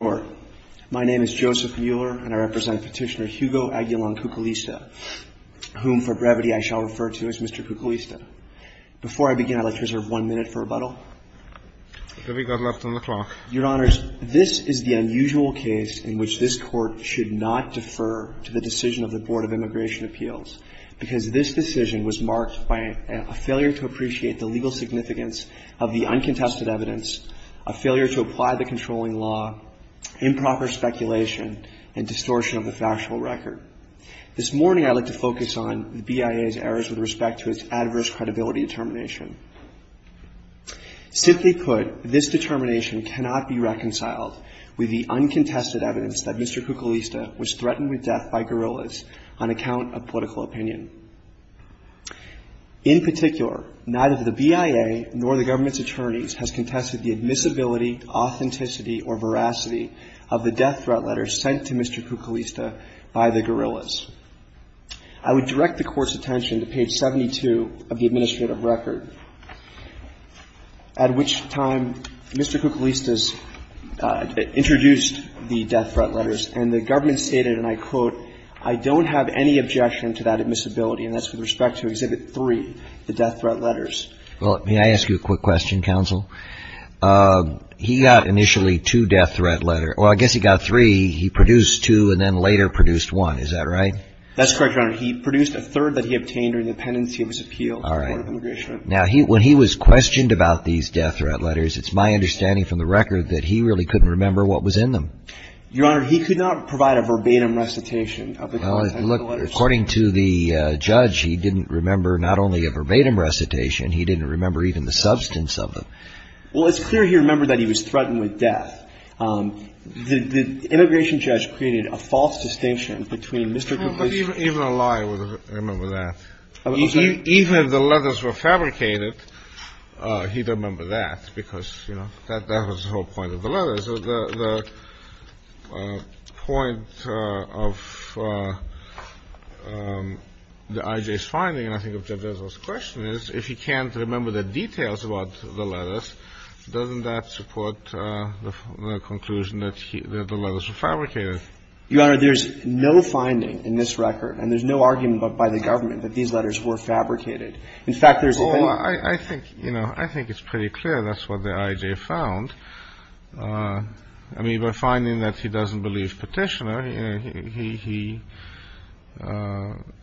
My name is Joseph Mueller, and I represent Petitioner Hugo Aguilar-Cuculista, whom, for brevity, I shall refer to as Mr. Cuculista. Before I begin, I'd like to reserve one minute for rebuttal. Your Honors, this is the unusual case in which this Court should not defer to the decision of the Board of Immigration Appeals, because this decision was marked by a failure to appreciate the legal significance of the uncontested evidence, a failure to apply the controlling law, improper speculation, and distortion of the factual record. This morning, I'd like to focus on the BIA's errors with respect to its adverse credibility determination. Simply put, this determination cannot be reconciled with the uncontested evidence that Mr. Cuculista was threatened with death by guerrillas on account of political opinion. In particular, neither the BIA nor the government's attorneys has contested the admissibility, authenticity, or veracity of the death threat letters sent to Mr. Cuculista by the guerrillas. I would direct the Court's attention to page 72 of the administrative record, at which time Mr. Cuculista's introduced the death threat letters, and the government stated, and I quote, I don't have any objection to that admissibility, and that's with respect to Exhibit 3, the death threat letters. Well, may I ask you a quick question, Counsel? He got initially two death threat letters. Well, I guess he got three. He produced two, and then later produced one. Is that right? That's correct, Your Honor. He produced a third that he obtained during the pendency of his appeal. All right. Now, when he was questioned about these death threat letters, it's my understanding from the record that he really couldn't remember what was in them. Your Honor, he could not provide a verbatim recitation of the death threat letters. Well, look, according to the judge, he didn't remember not only a verbatim recitation, he didn't remember even the substance of them. Well, it's clear he remembered that he was threatened with death. The immigration judge created a false distinction between Mr. Cuculista's ---- Even a liar would remember that. I'm sorry? Even if the letters were fabricated, he'd remember that, because, you know, that was the whole point of the letters. The point of the I.J.'s finding, I think, of Judge Ezold's question is, if he can't remember the details about the letters, doesn't that support the conclusion that the letters were fabricated? Your Honor, there's no finding in this record, and there's no argument by the government that these letters were fabricated. In fact, there's a thing ---- Well, I think, you know, I think it's pretty clear that's what the I.J. found. I mean, by finding that he doesn't believe Petitioner, he ----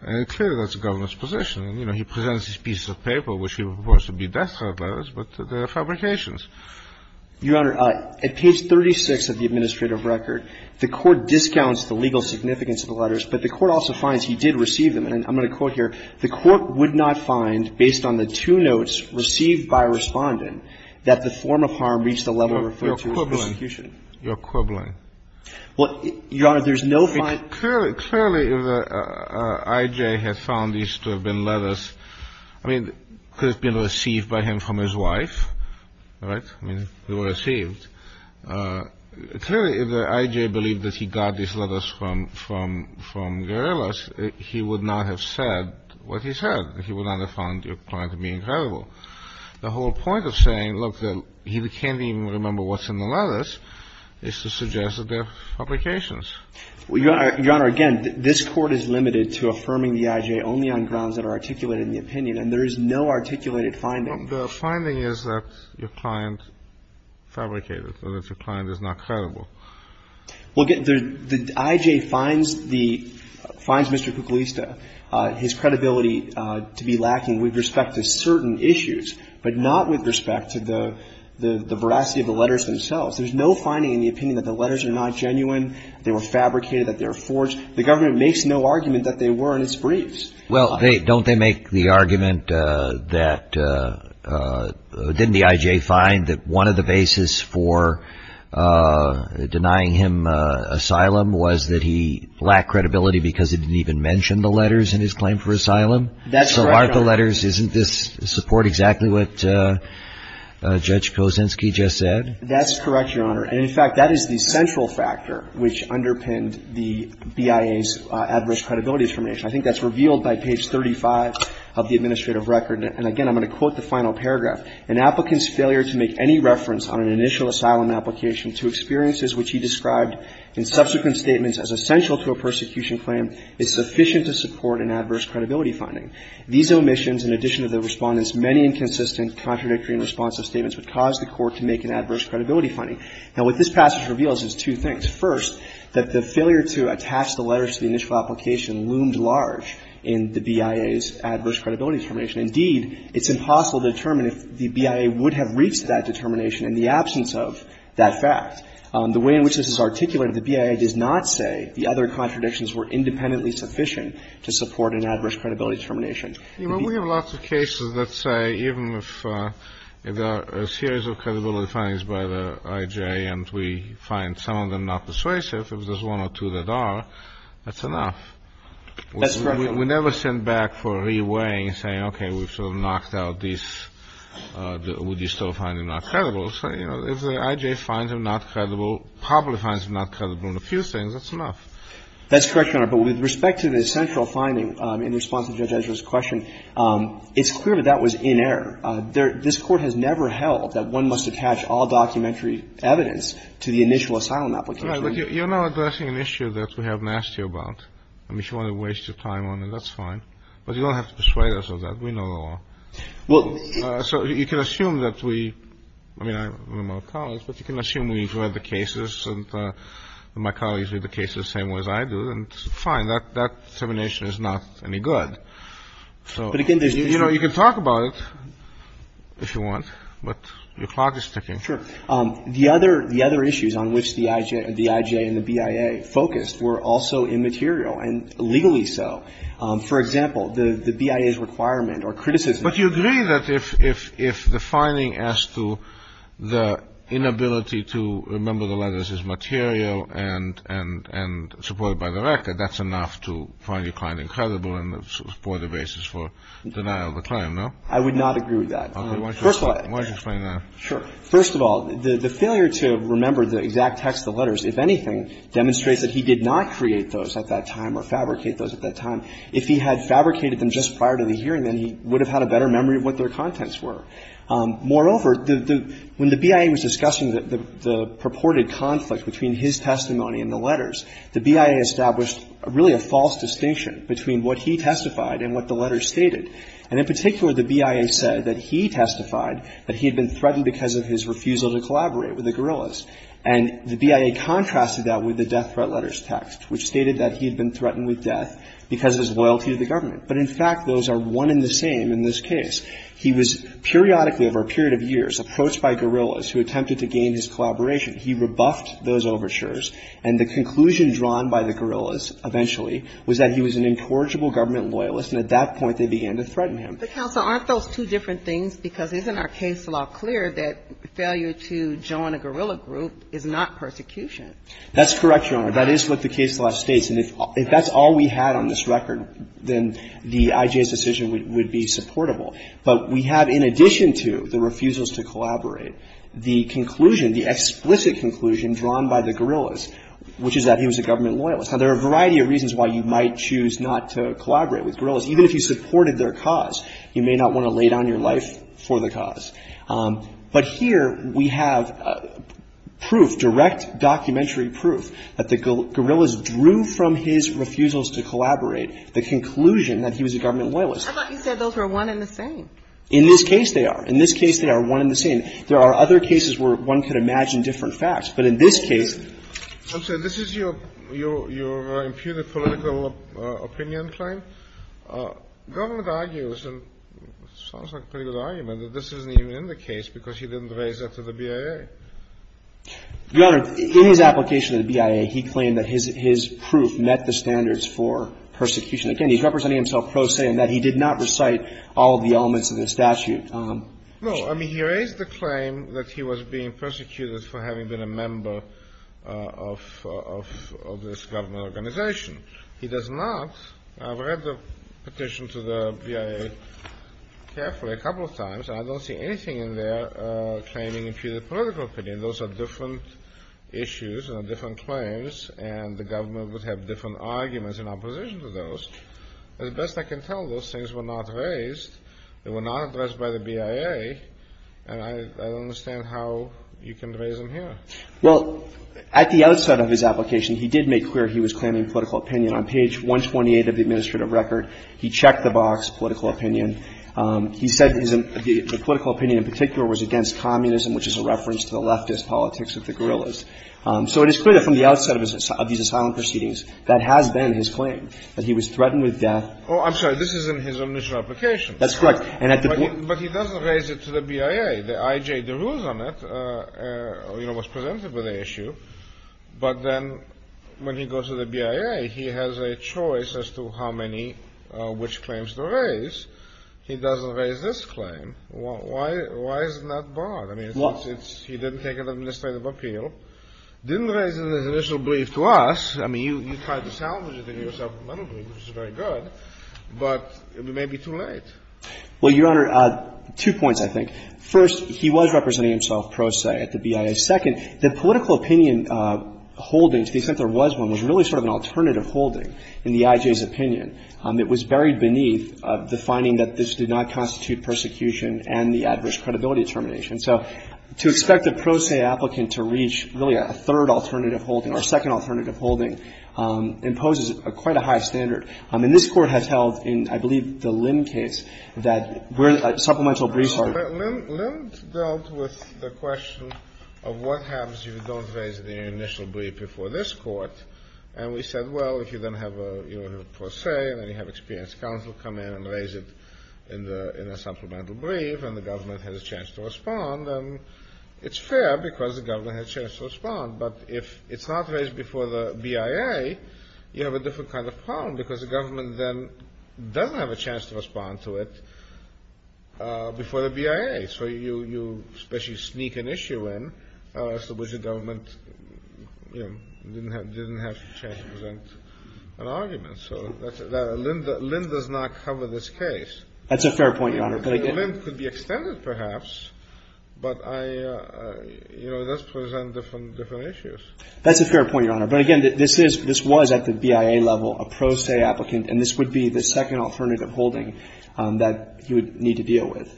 and it's clear that's the government's position. You know, he presents these pieces of paper, which he reports to be death threat letters, but they're fabrications. Your Honor, at page 36 of the administrative record, the Court discounts the legal significance of the letters, but the Court also finds he did receive them. And I'm going to quote here. The Court would not find, based on the two notes received by Respondent, that the form of harm reached the level referred to as persecution. You're quibbling. You're quibbling. Well, Your Honor, there's no ---- Well, clearly, clearly, if the I.J. had found these to have been letters, I mean, could have been received by him from his wife, right? I mean, they were received. Clearly, if the I.J. believed that he got these letters from guerrillas, he would not have said what he said. He would not have found your point to be incredible. The whole point of saying, look, he can't even remember what's in the letters is to suggest that they're fabrications. Your Honor, again, this Court is limited to affirming the I.J. only on grounds that are articulated in the opinion, and there is no articulated finding. The finding is that your client fabricated and that your client is not credible. Well, again, the I.J. finds the ---- finds Mr. Kuglista, his credibility to be lacking with respect to certain issues, but not with respect to the veracity of the letters themselves. There's no finding in the opinion that the letters are not genuine, they were fabricated, that they were forged. The government makes no argument that they were in its briefs. Well, don't they make the argument that didn't the I.J. find that one of the basis for denying him asylum was that he lacked credibility because he didn't even mention the letters in his claim for asylum? That's correct, Your Honor. So aren't the letters, isn't this support exactly what Judge Kosinski just said? That's correct, Your Honor. And, in fact, that is the central factor which underpinned the BIA's adverse credibility determination. I think that's revealed by page 35 of the administrative record. And, again, I'm going to quote the final paragraph. An applicant's failure to make any reference on an initial asylum application to experiences which he described in subsequent statements as essential to a persecution claim is sufficient to support an adverse credibility finding. These omissions, in addition to the Respondent's many inconsistent, contradictory and responsive statements, would cause the Court to make an adverse credibility finding. Now, what this passage reveals is two things. First, that the failure to attach the letters to the initial application loomed large in the BIA's adverse credibility determination. Indeed, it's impossible to determine if the BIA would have reached that determination in the absence of that fact. The way in which this is articulated, the BIA does not say the other contradictions were independently sufficient to support an adverse credibility determination. You know, we have lots of cases that say even if a series of credibility findings by the I.J. and we find some of them not persuasive, if there's one or two that are, that's enough. That's correct, Your Honor. We never send back for re-weighing, saying, okay, we've sort of knocked out these would-you-still-find-them-not-credible. So, you know, if the I.J. finds them not credible, probably finds them not credible That's correct, Your Honor. But with respect to the central finding in response to Judge Ezra's question, it's clear that that was in error. This Court has never held that one must attach all documentary evidence to the initial asylum application. Right. But you're not addressing an issue that we have nasty about. I mean, if you want to waste your time on it, that's fine. But you don't have to persuade us of that. We know the law. So you can assume that we, I mean, I'm a college, but you can assume we've read the cases and my colleagues read the cases the same way as I do. And it's fine. That determination is not any good. But, again, there's different You know, you can talk about it if you want, but your clock is ticking. Sure. The other issues on which the I.J. and the BIA focused were also immaterial, and legally so. For example, the BIA's requirement or criticism But you agree that if the finding as to the inability to remember the letters is material and supported by the record, that's enough to find your client incredible and support the basis for denial of the claim, no? I would not agree with that. Okay. Why don't you explain that? Sure. First of all, the failure to remember the exact text of the letters, if anything, demonstrates that he did not create those at that time or fabricate those at that time. If he had fabricated them just prior to the hearing, then he would have had a better memory of what their contents were. Moreover, when the BIA was discussing the purported conflict between his testimony and the letters, the BIA established really a false distinction between what he testified and what the letters stated. And in particular, the BIA said that he testified that he had been threatened because of his refusal to collaborate with the guerrillas. And the BIA contrasted that with the death threat letters text, which stated that he had been threatened with death because of his loyalty to the government. But in fact, those are one and the same in this case. He was periodically over a period of years approached by guerrillas who attempted to gain his collaboration. He rebuffed those overtures. And the conclusion drawn by the guerrillas eventually was that he was an incorrigible government loyalist, and at that point they began to threaten him. But, counsel, aren't those two different things? Because isn't our case law clear that failure to join a guerrilla group is not persecution? That's correct, Your Honor. That is what the case law states. And if that's all we had on this record, then the IJ's decision would be supportable. But we have, in addition to the refusals to collaborate, the conclusion, the explicit conclusion drawn by the guerrillas, which is that he was a government loyalist. Now, there are a variety of reasons why you might choose not to collaborate with guerrillas. Even if you supported their cause, you may not want to lay down your life for the cause. But here we have proof, direct documentary proof, that the guerrillas drew from his refusals to collaborate the conclusion that he was a government loyalist. I thought you said those were one and the same. In this case, they are. In this case, they are one and the same. There are other cases where one could imagine different facts. But in this case. Counsel, this is your imputed political opinion claim. Government argues, and it sounds like a pretty good argument, that this isn't even in the case because he didn't raise it to the BIA. Your Honor, in his application to the BIA, he claimed that his proof met the standards for persecution. Again, he's representing himself pro se in that he did not recite all of the elements of the statute. No. I mean, he raised the claim that he was being persecuted for having been a member of this government organization. He does not. I've read the petition to the BIA carefully a couple of times, and I don't see anything in there claiming imputed political opinion. Those are different issues and different claims, and the government would have different arguments in opposition to those. As best I can tell, those things were not raised. They were not addressed by the BIA, and I don't understand how you can raise them here. Well, at the outset of his application, he did make clear he was claiming political opinion. On page 128 of the administrative record, he checked the box, political opinion. He said the political opinion in particular was against communism, which is a reference to the leftist politics of the guerrillas. So it is clear that from the outset of these asylum proceedings, that has been his claim, that he was threatened with death. Oh, I'm sorry. This is in his initial application. That's correct. And at the point he raised it to the BIA. The I.J. DeRouze on it, you know, was presented with the issue. But then when he goes to the BIA, he has a choice as to how many which claims to raise. He doesn't raise this claim. Why isn't that broad? I mean, he didn't take an administrative appeal. Didn't raise it in his initial brief to us. I mean, you tried to salvage it in your supplemental brief, which is very good. But it may be too late. Well, Your Honor, two points, I think. First, he was representing himself pro se at the BIA. Second, the political opinion holding, to the extent there was one, was really sort of an alternative holding in the I.J.'s opinion. It was buried beneath the finding that this did not constitute persecution and the adverse credibility determination. So to expect a pro se applicant to reach really a third alternative holding or a second alternative holding imposes quite a high standard. And this Court has held in, I believe, the Lim case that where the supplemental briefs were. Lim dealt with the question of what happens if you don't raise it in your initial brief before this Court. And we said, well, if you then have a pro se and then you have experienced counsel come in and raise it in a supplemental brief and the government has a chance to respond, then it's fair because the government has a chance to respond. But if it's not raised before the BIA, you have a different kind of problem because the government then doesn't have a chance to respond to it before the BIA. So you especially sneak an issue in as to which the government, you know, didn't have a chance to present an argument. So Lim does not cover this case. That's a fair point, Your Honor. Lim could be extended, perhaps, but I, you know, it does present different issues. That's a fair point, Your Honor. But again, this is, this was at the BIA level a pro se applicant, and this would be the second alternative holding that he would need to deal with.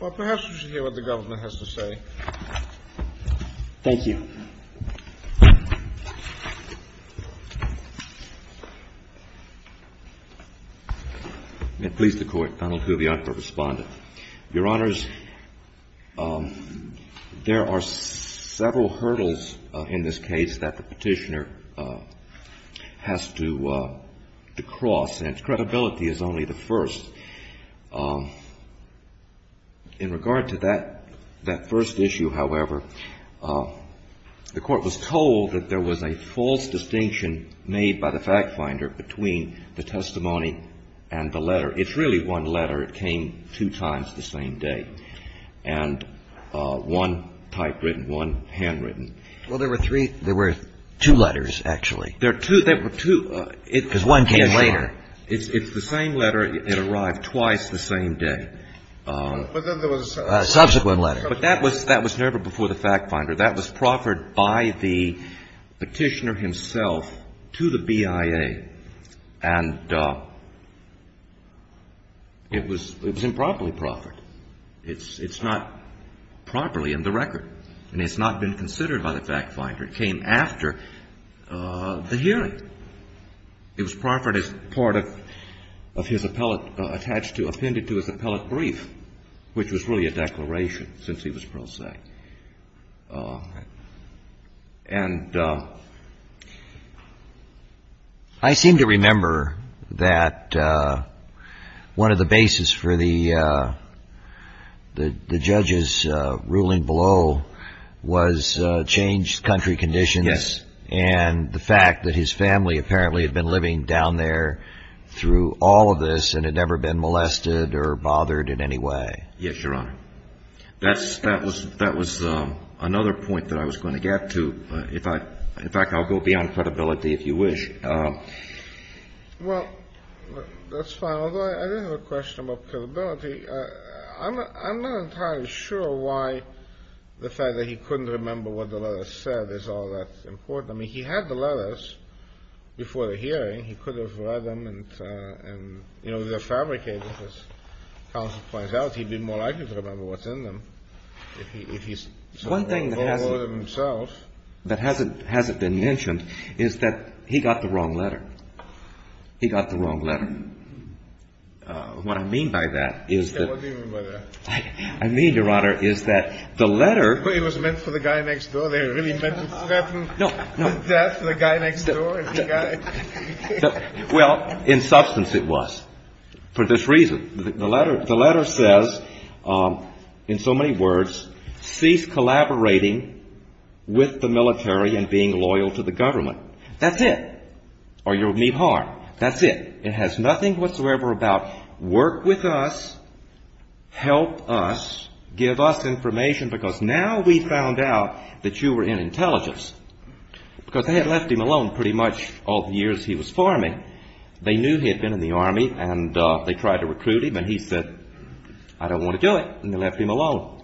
Well, perhaps we should hear what the government has to say. Thank you. Please, the Court. Donald Hubion for Respondent. Your Honors, there are several hurdles in this case that the Petitioner has to cross, and its credibility is only the first. In regard to that first issue, however, the Court was told that there was a false distinction made by the fact finder between the testimony and the letter. It's really one letter. It came two times the same day, and one typewritten, one handwritten. Well, there were three. There were two letters, actually. There were two. Because one came later. It's the same letter. It arrived twice the same day. But then there was a subsequent letter. But that was never before the fact finder. That was proffered by the Petitioner himself to the BIA. And it was improperly proffered. It's not properly in the record. And it's not been considered by the fact finder. It came after the hearing. It was proffered as part of his appellate attached to, appended to his appellate brief, which was really a declaration since he was pro se. And I seem to remember that one of the bases for the judge's ruling below was changed country conditions. Yes. And the fact that his family apparently had been living down there through all of this and had never been molested or bothered in any way. Yes, Your Honor. That was another point that I was going to get to. In fact, I'll go beyond credibility if you wish. Well, that's fine. Although I do have a question about credibility. I'm not entirely sure why the fact that he couldn't remember what the letter said is all that important. I mean, he had the letters before the hearing. He could have read them and, you know, they're fabricated. As far as counsel points out, he'd be more likely to remember what's in them. One thing that hasn't been mentioned is that he got the wrong letter. He got the wrong letter. What I mean by that is that. What do you mean by that? I mean, Your Honor, is that the letter. It was meant for the guy next door. They really meant to threaten the guy next door. Well, in substance, it was for this reason. The letter says, in so many words, cease collaborating with the military and being loyal to the government. That's it. Or you'll meet harm. That's it. It has nothing whatsoever about work with us, help us, give us information. Because now we found out that you were in intelligence. Because they had left him alone pretty much all the years he was farming. They knew he had been in the Army and they tried to recruit him and he said, I don't want to do it. And they left him alone.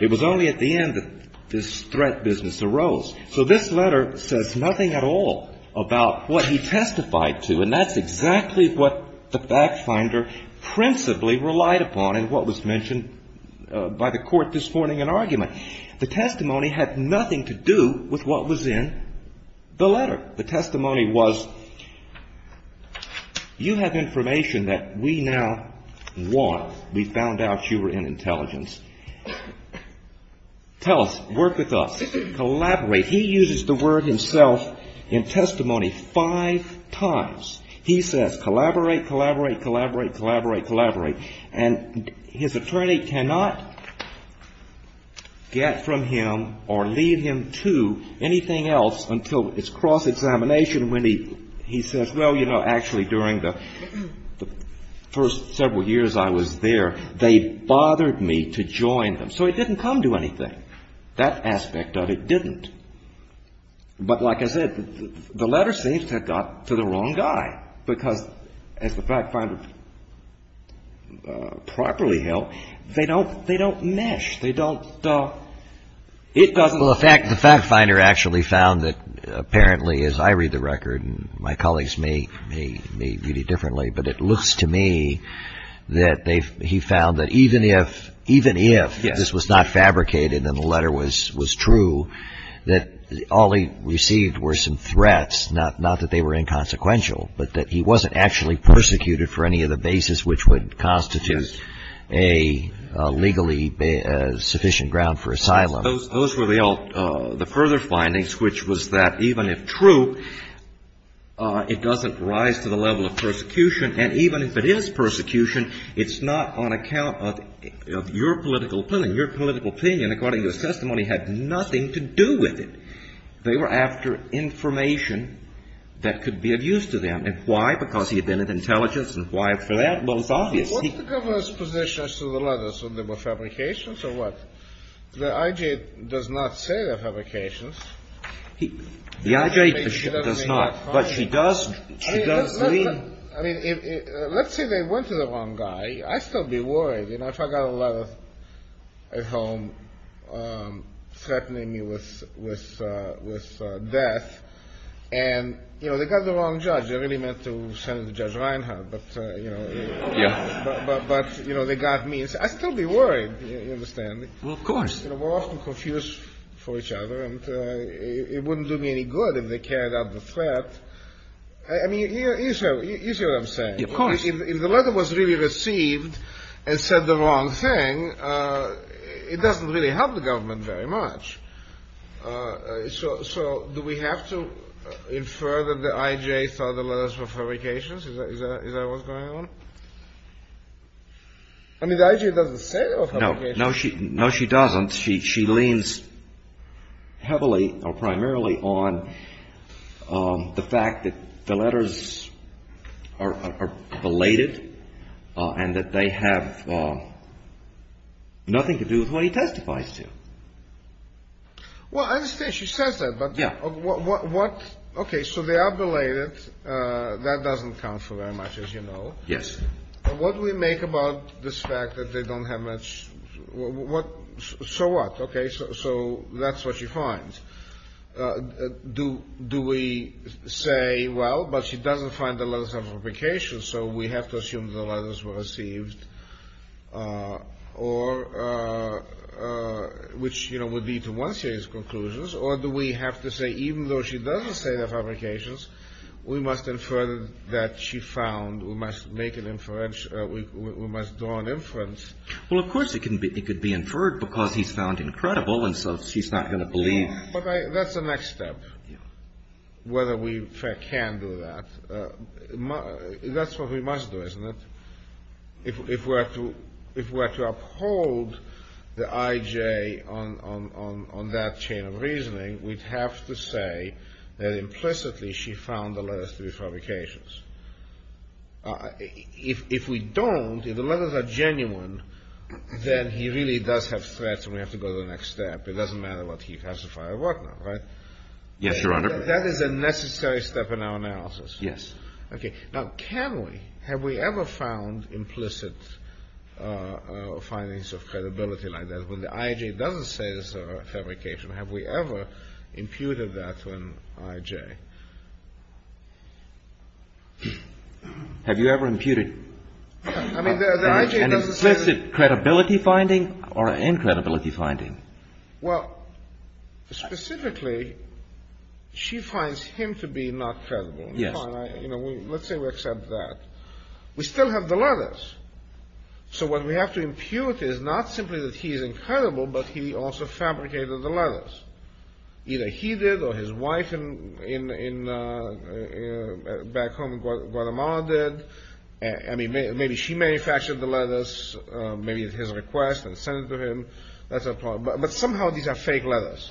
It was only at the end that this threat business arose. So this letter says nothing at all about what he testified to. And that's exactly what the fact finder principally relied upon in what was mentioned by the court this morning in argument. The testimony had nothing to do with what was in the letter. The testimony was, you have information that we now want. We found out you were in intelligence. Tell us. Work with us. Collaborate. He uses the word himself in testimony five times. He says collaborate, collaborate, collaborate, collaborate, collaborate. And his attorney cannot get from him or lead him to anything else until it's cross-examination when he says, well, you know, actually during the first several years I was there, they bothered me to join them. So it didn't come to anything. That aspect of it didn't. But like I said, the letter seems to have got to the wrong guy because as the fact finder properly held, they don't mesh. They don't, it doesn't. Well, the fact finder actually found that apparently as I read the record and my colleagues may view it differently, but it looks to me that he found that even if this was not fabricated and the letter was true, that all he received were some threats, not that they were inconsequential, but that he wasn't actually persecuted for any of the basis which would constitute a legally sufficient ground for asylum. Those were the further findings, which was that even if true, it doesn't rise to the level of persecution. And even if it is persecution, it's not on account of your political opinion. Your political opinion, according to the testimony, had nothing to do with it. They were after information that could be of use to them. And why? Because he had been of intelligence. And why for that? Well, it's obvious. What's the governor's position as to the letters? Were they fabrications or what? The IJ does not say they're fabrications. The IJ does not. But she does. I mean, let's say they went to the wrong guy. I'd still be worried. You know, if I got a letter at home threatening me with death and, you know, they got the wrong judge. I really meant to send it to Judge Reinhart. But, you know, they got me. I'd still be worried, you understand. Well, of course. We're often confused for each other. And it wouldn't do me any good if they carried out the threat. I mean, you see what I'm saying. Of course. If the letter was really received and said the wrong thing, it doesn't really help the government very much. So do we have to infer that the IJ saw the letters were fabrications? Is that what's going on? I mean, the IJ doesn't say they were fabrications. No, she doesn't. She leans heavily or primarily on the fact that the letters are belated and that they have nothing to do with what he testifies to. Well, I understand she says that. But what? Okay. So they are belated. That doesn't count for very much, as you know. Yes. What do we make about this fact that they don't have much? What? So what? Okay. So that's what she finds. Do we say, well, but she doesn't find the letters of fabrication, so we have to assume the letters were received. Or which, you know, would lead to one series of conclusions. Or do we have to say, even though she doesn't say they're fabrications, we must infer that she found. We must make an inference. We must draw an inference. Well, of course it could be inferred because he's found incredible, and so she's not going to believe. But that's the next step, whether we can do that. That's what we must do, isn't it? If we're to uphold the IJ on that chain of reasoning, we'd have to say that implicitly she found the letters to be fabrications. If we don't, if the letters are genuine, then he really does have threats and we have to go to the next step. It doesn't matter what he classified or whatnot, right? Yes, Your Honor. That is a necessary step in our analysis. Yes. Okay. Now, can we? Have we ever found implicit findings of credibility like that when the IJ doesn't say it's a fabrication? Have we ever imputed that to an IJ? Have you ever imputed an implicit credibility finding or an incredibility finding? Well, specifically, she finds him to be not credible. Yes. Let's say we accept that. We still have the letters. So what we have to impute is not simply that he is incredible, but he also fabricated the letters. Either he did or his wife back home in Guatemala did. I mean, maybe she manufactured the letters. Maybe it's his request and sent it to him. But somehow these are fake letters.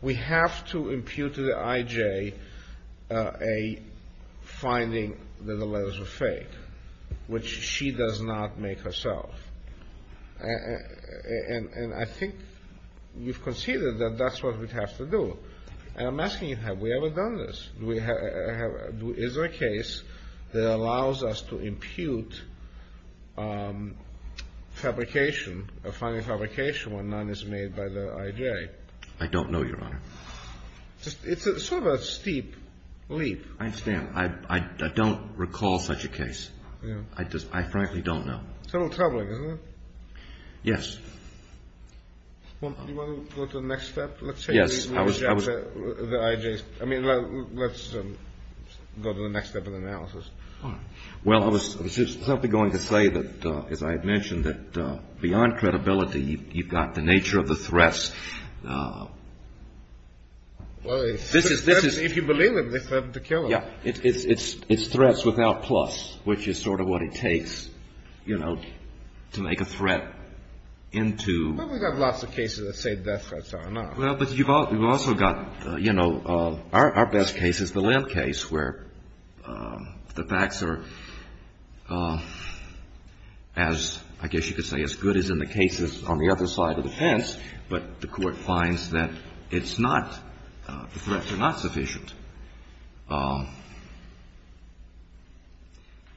We have to impute to the IJ a finding that the letters are fake, which she does not make herself. And I think you've conceded that that's what we'd have to do. And I'm asking you, have we ever done this? Is there a case that allows us to impute fabrication, a finding of fabrication when none is made by the IJ? I don't know, Your Honor. It's sort of a steep leap. I understand. I don't recall such a case. I frankly don't know. It's a little troubling, isn't it? Yes. Do you want to go to the next step? Yes. Let's go to the next step of the analysis. All right. Well, I was simply going to say that, as I had mentioned, that beyond credibility, you've got the nature of the threats. Well, if you believe them, they threaten to kill us. Yes. It's threats without plus, which is sort of what it takes, you know, to make a threat into. Well, we've got lots of cases that say death threats are enough. Well, but you've also got, you know, our best case is the Lim case where the facts are, as I guess you could say, as good as in the cases on the other side of the fence, but the court finds that it's not, the threats are not sufficient.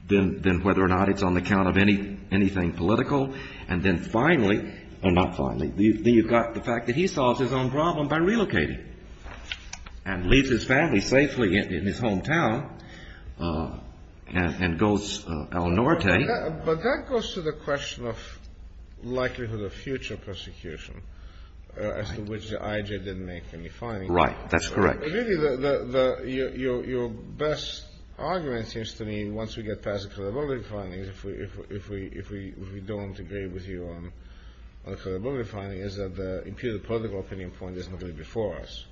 Then whether or not it's on the count of anything political, and then finally, or not finally, then you've got the fact that he solves his own problem by relocating and leaves his family safely in his hometown and goes El Norte. But that goes to the question of likelihood of future prosecution, as to which the IJ didn't make any findings. Right. That's correct. Really, your best argument seems to me, once we get past the credibility findings, if we don't agree with you on the credibility findings, is that the imputed political opinion point is nobody before us.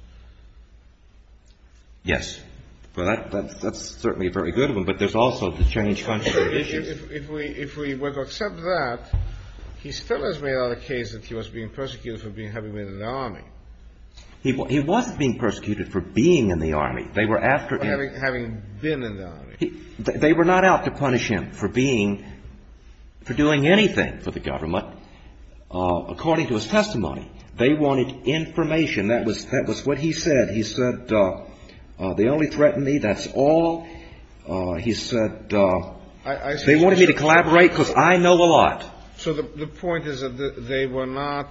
Yes. Well, that's certainly a very good one, but there's also the change function issues. If we were to accept that, he still has made out a case that he was being persecuted for having been in the army. He wasn't being persecuted for being in the army. They were after him. Having been in the army. They were not out to punish him for being, for doing anything for the government. According to his testimony, they wanted information. That was what he said. He said, they only threatened me, that's all. He said, they wanted me to collaborate because I know a lot. So the point is that they were not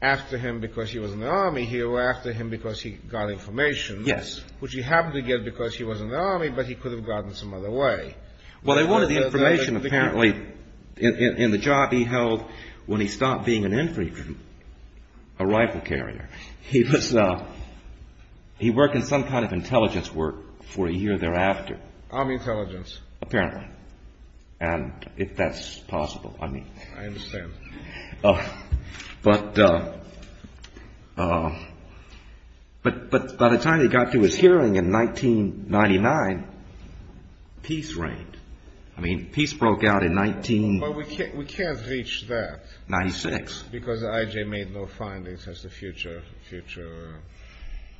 after him because he was in the army. He was after him because he got information. Yes. Which he happened to get because he was in the army, but he could have gotten some other way. Well, they wanted the information, apparently, in the job he held when he stopped being an infantryman, a rifle carrier. He was, he worked in some kind of intelligence work for a year thereafter. Army intelligence. Apparently. And if that's possible, I mean. I understand. But by the time he got to his hearing in 1999, peace reigned. I mean, peace broke out in 19- Well, we can't reach that. 96. Because I.J. made no findings as to future.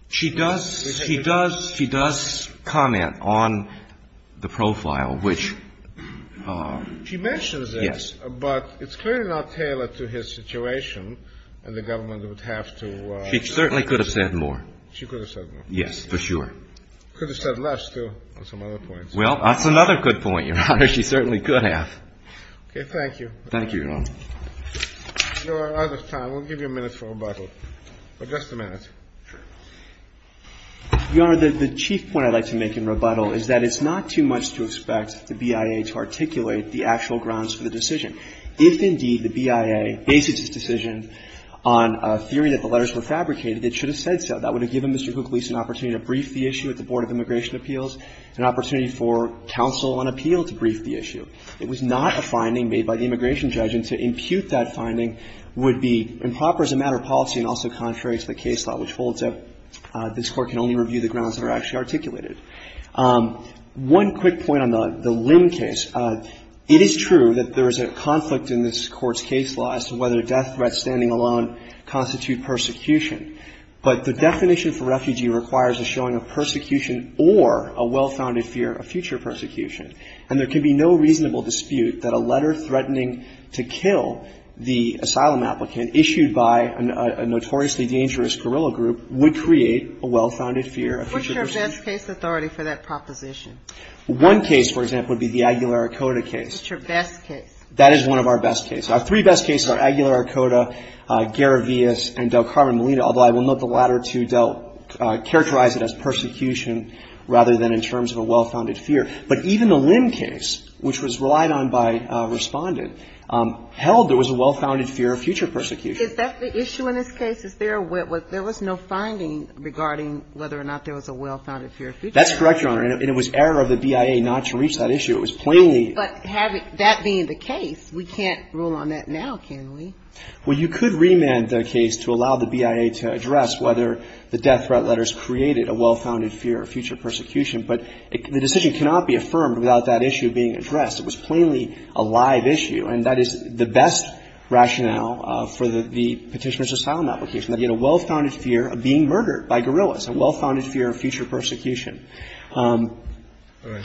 She does. She does. She does comment on the profile, which. She mentions it. Yes. But it's clearly not tailored to his situation, and the government would have to. She certainly could have said more. She could have said more. Yes, for sure. Could have said less, too, on some other points. Well, that's another good point, Your Honor. She certainly could have. Okay. Thank you. Thank you, Your Honor. Your Honor, out of time, we'll give you a minute for rebuttal. But just a minute. Sure. Your Honor, the chief point I'd like to make in rebuttal is that it's not too much to expect the BIA to articulate the actual grounds for the decision. If, indeed, the BIA bases its decision on a theory that the letters were fabricated, it should have said so. That would have given Mr. Kouklis an opportunity to brief the issue at the Board of Immigration Appeals, an opportunity for counsel on appeal to brief the issue. It was not a finding made by the immigration judge, and to impute that finding would be improper as a matter of policy and also contrary to the case law, which holds that this Court can only review the grounds that are actually articulated. One quick point on the Lim case. It is true that there is a conflict in this Court's case law as to whether death threats standing alone constitute persecution. But the definition for refugee requires a showing of persecution or a well-founded fear of future persecution. And there can be no reasonable dispute that a letter threatening to kill the asylum applicant issued by a notoriously dangerous guerrilla group would create a well-founded fear of future persecution. What's your best case authority for that proposition? One case, for example, would be the Aguilar-Arcota case. What's your best case? That is one of our best cases. Our three best cases are Aguilar-Arcota, Garavias, and Del Carmen Molina, although I will note the latter two don't characterize it as persecution rather than in terms of a well-founded fear. But even the Lim case, which was relied on by Respondent, held there was a well-founded fear of future persecution. Is that the issue in this case? Is there a – there was no finding regarding whether or not there was a well-founded fear of future persecution. That's correct, Your Honor. And it was error of the BIA not to reach that issue. It was plainly – But that being the case, we can't rule on that now, can we? Well, you could remand the case to allow the BIA to address whether the death threat letters created a well-founded fear of future persecution. But the decision cannot be affirmed without that issue being addressed. It was plainly a live issue. And that is the best rationale for the Petitioner's asylum application, that you had a well-founded fear of being murdered by guerrillas, a well-founded fear of future persecution. All right.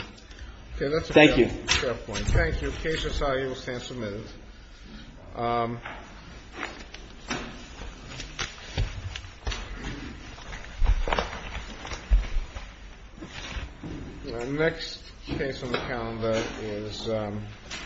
Okay. That's a fair point. Thank you. The case is now able to stand for a minute. The next case on the calendar is –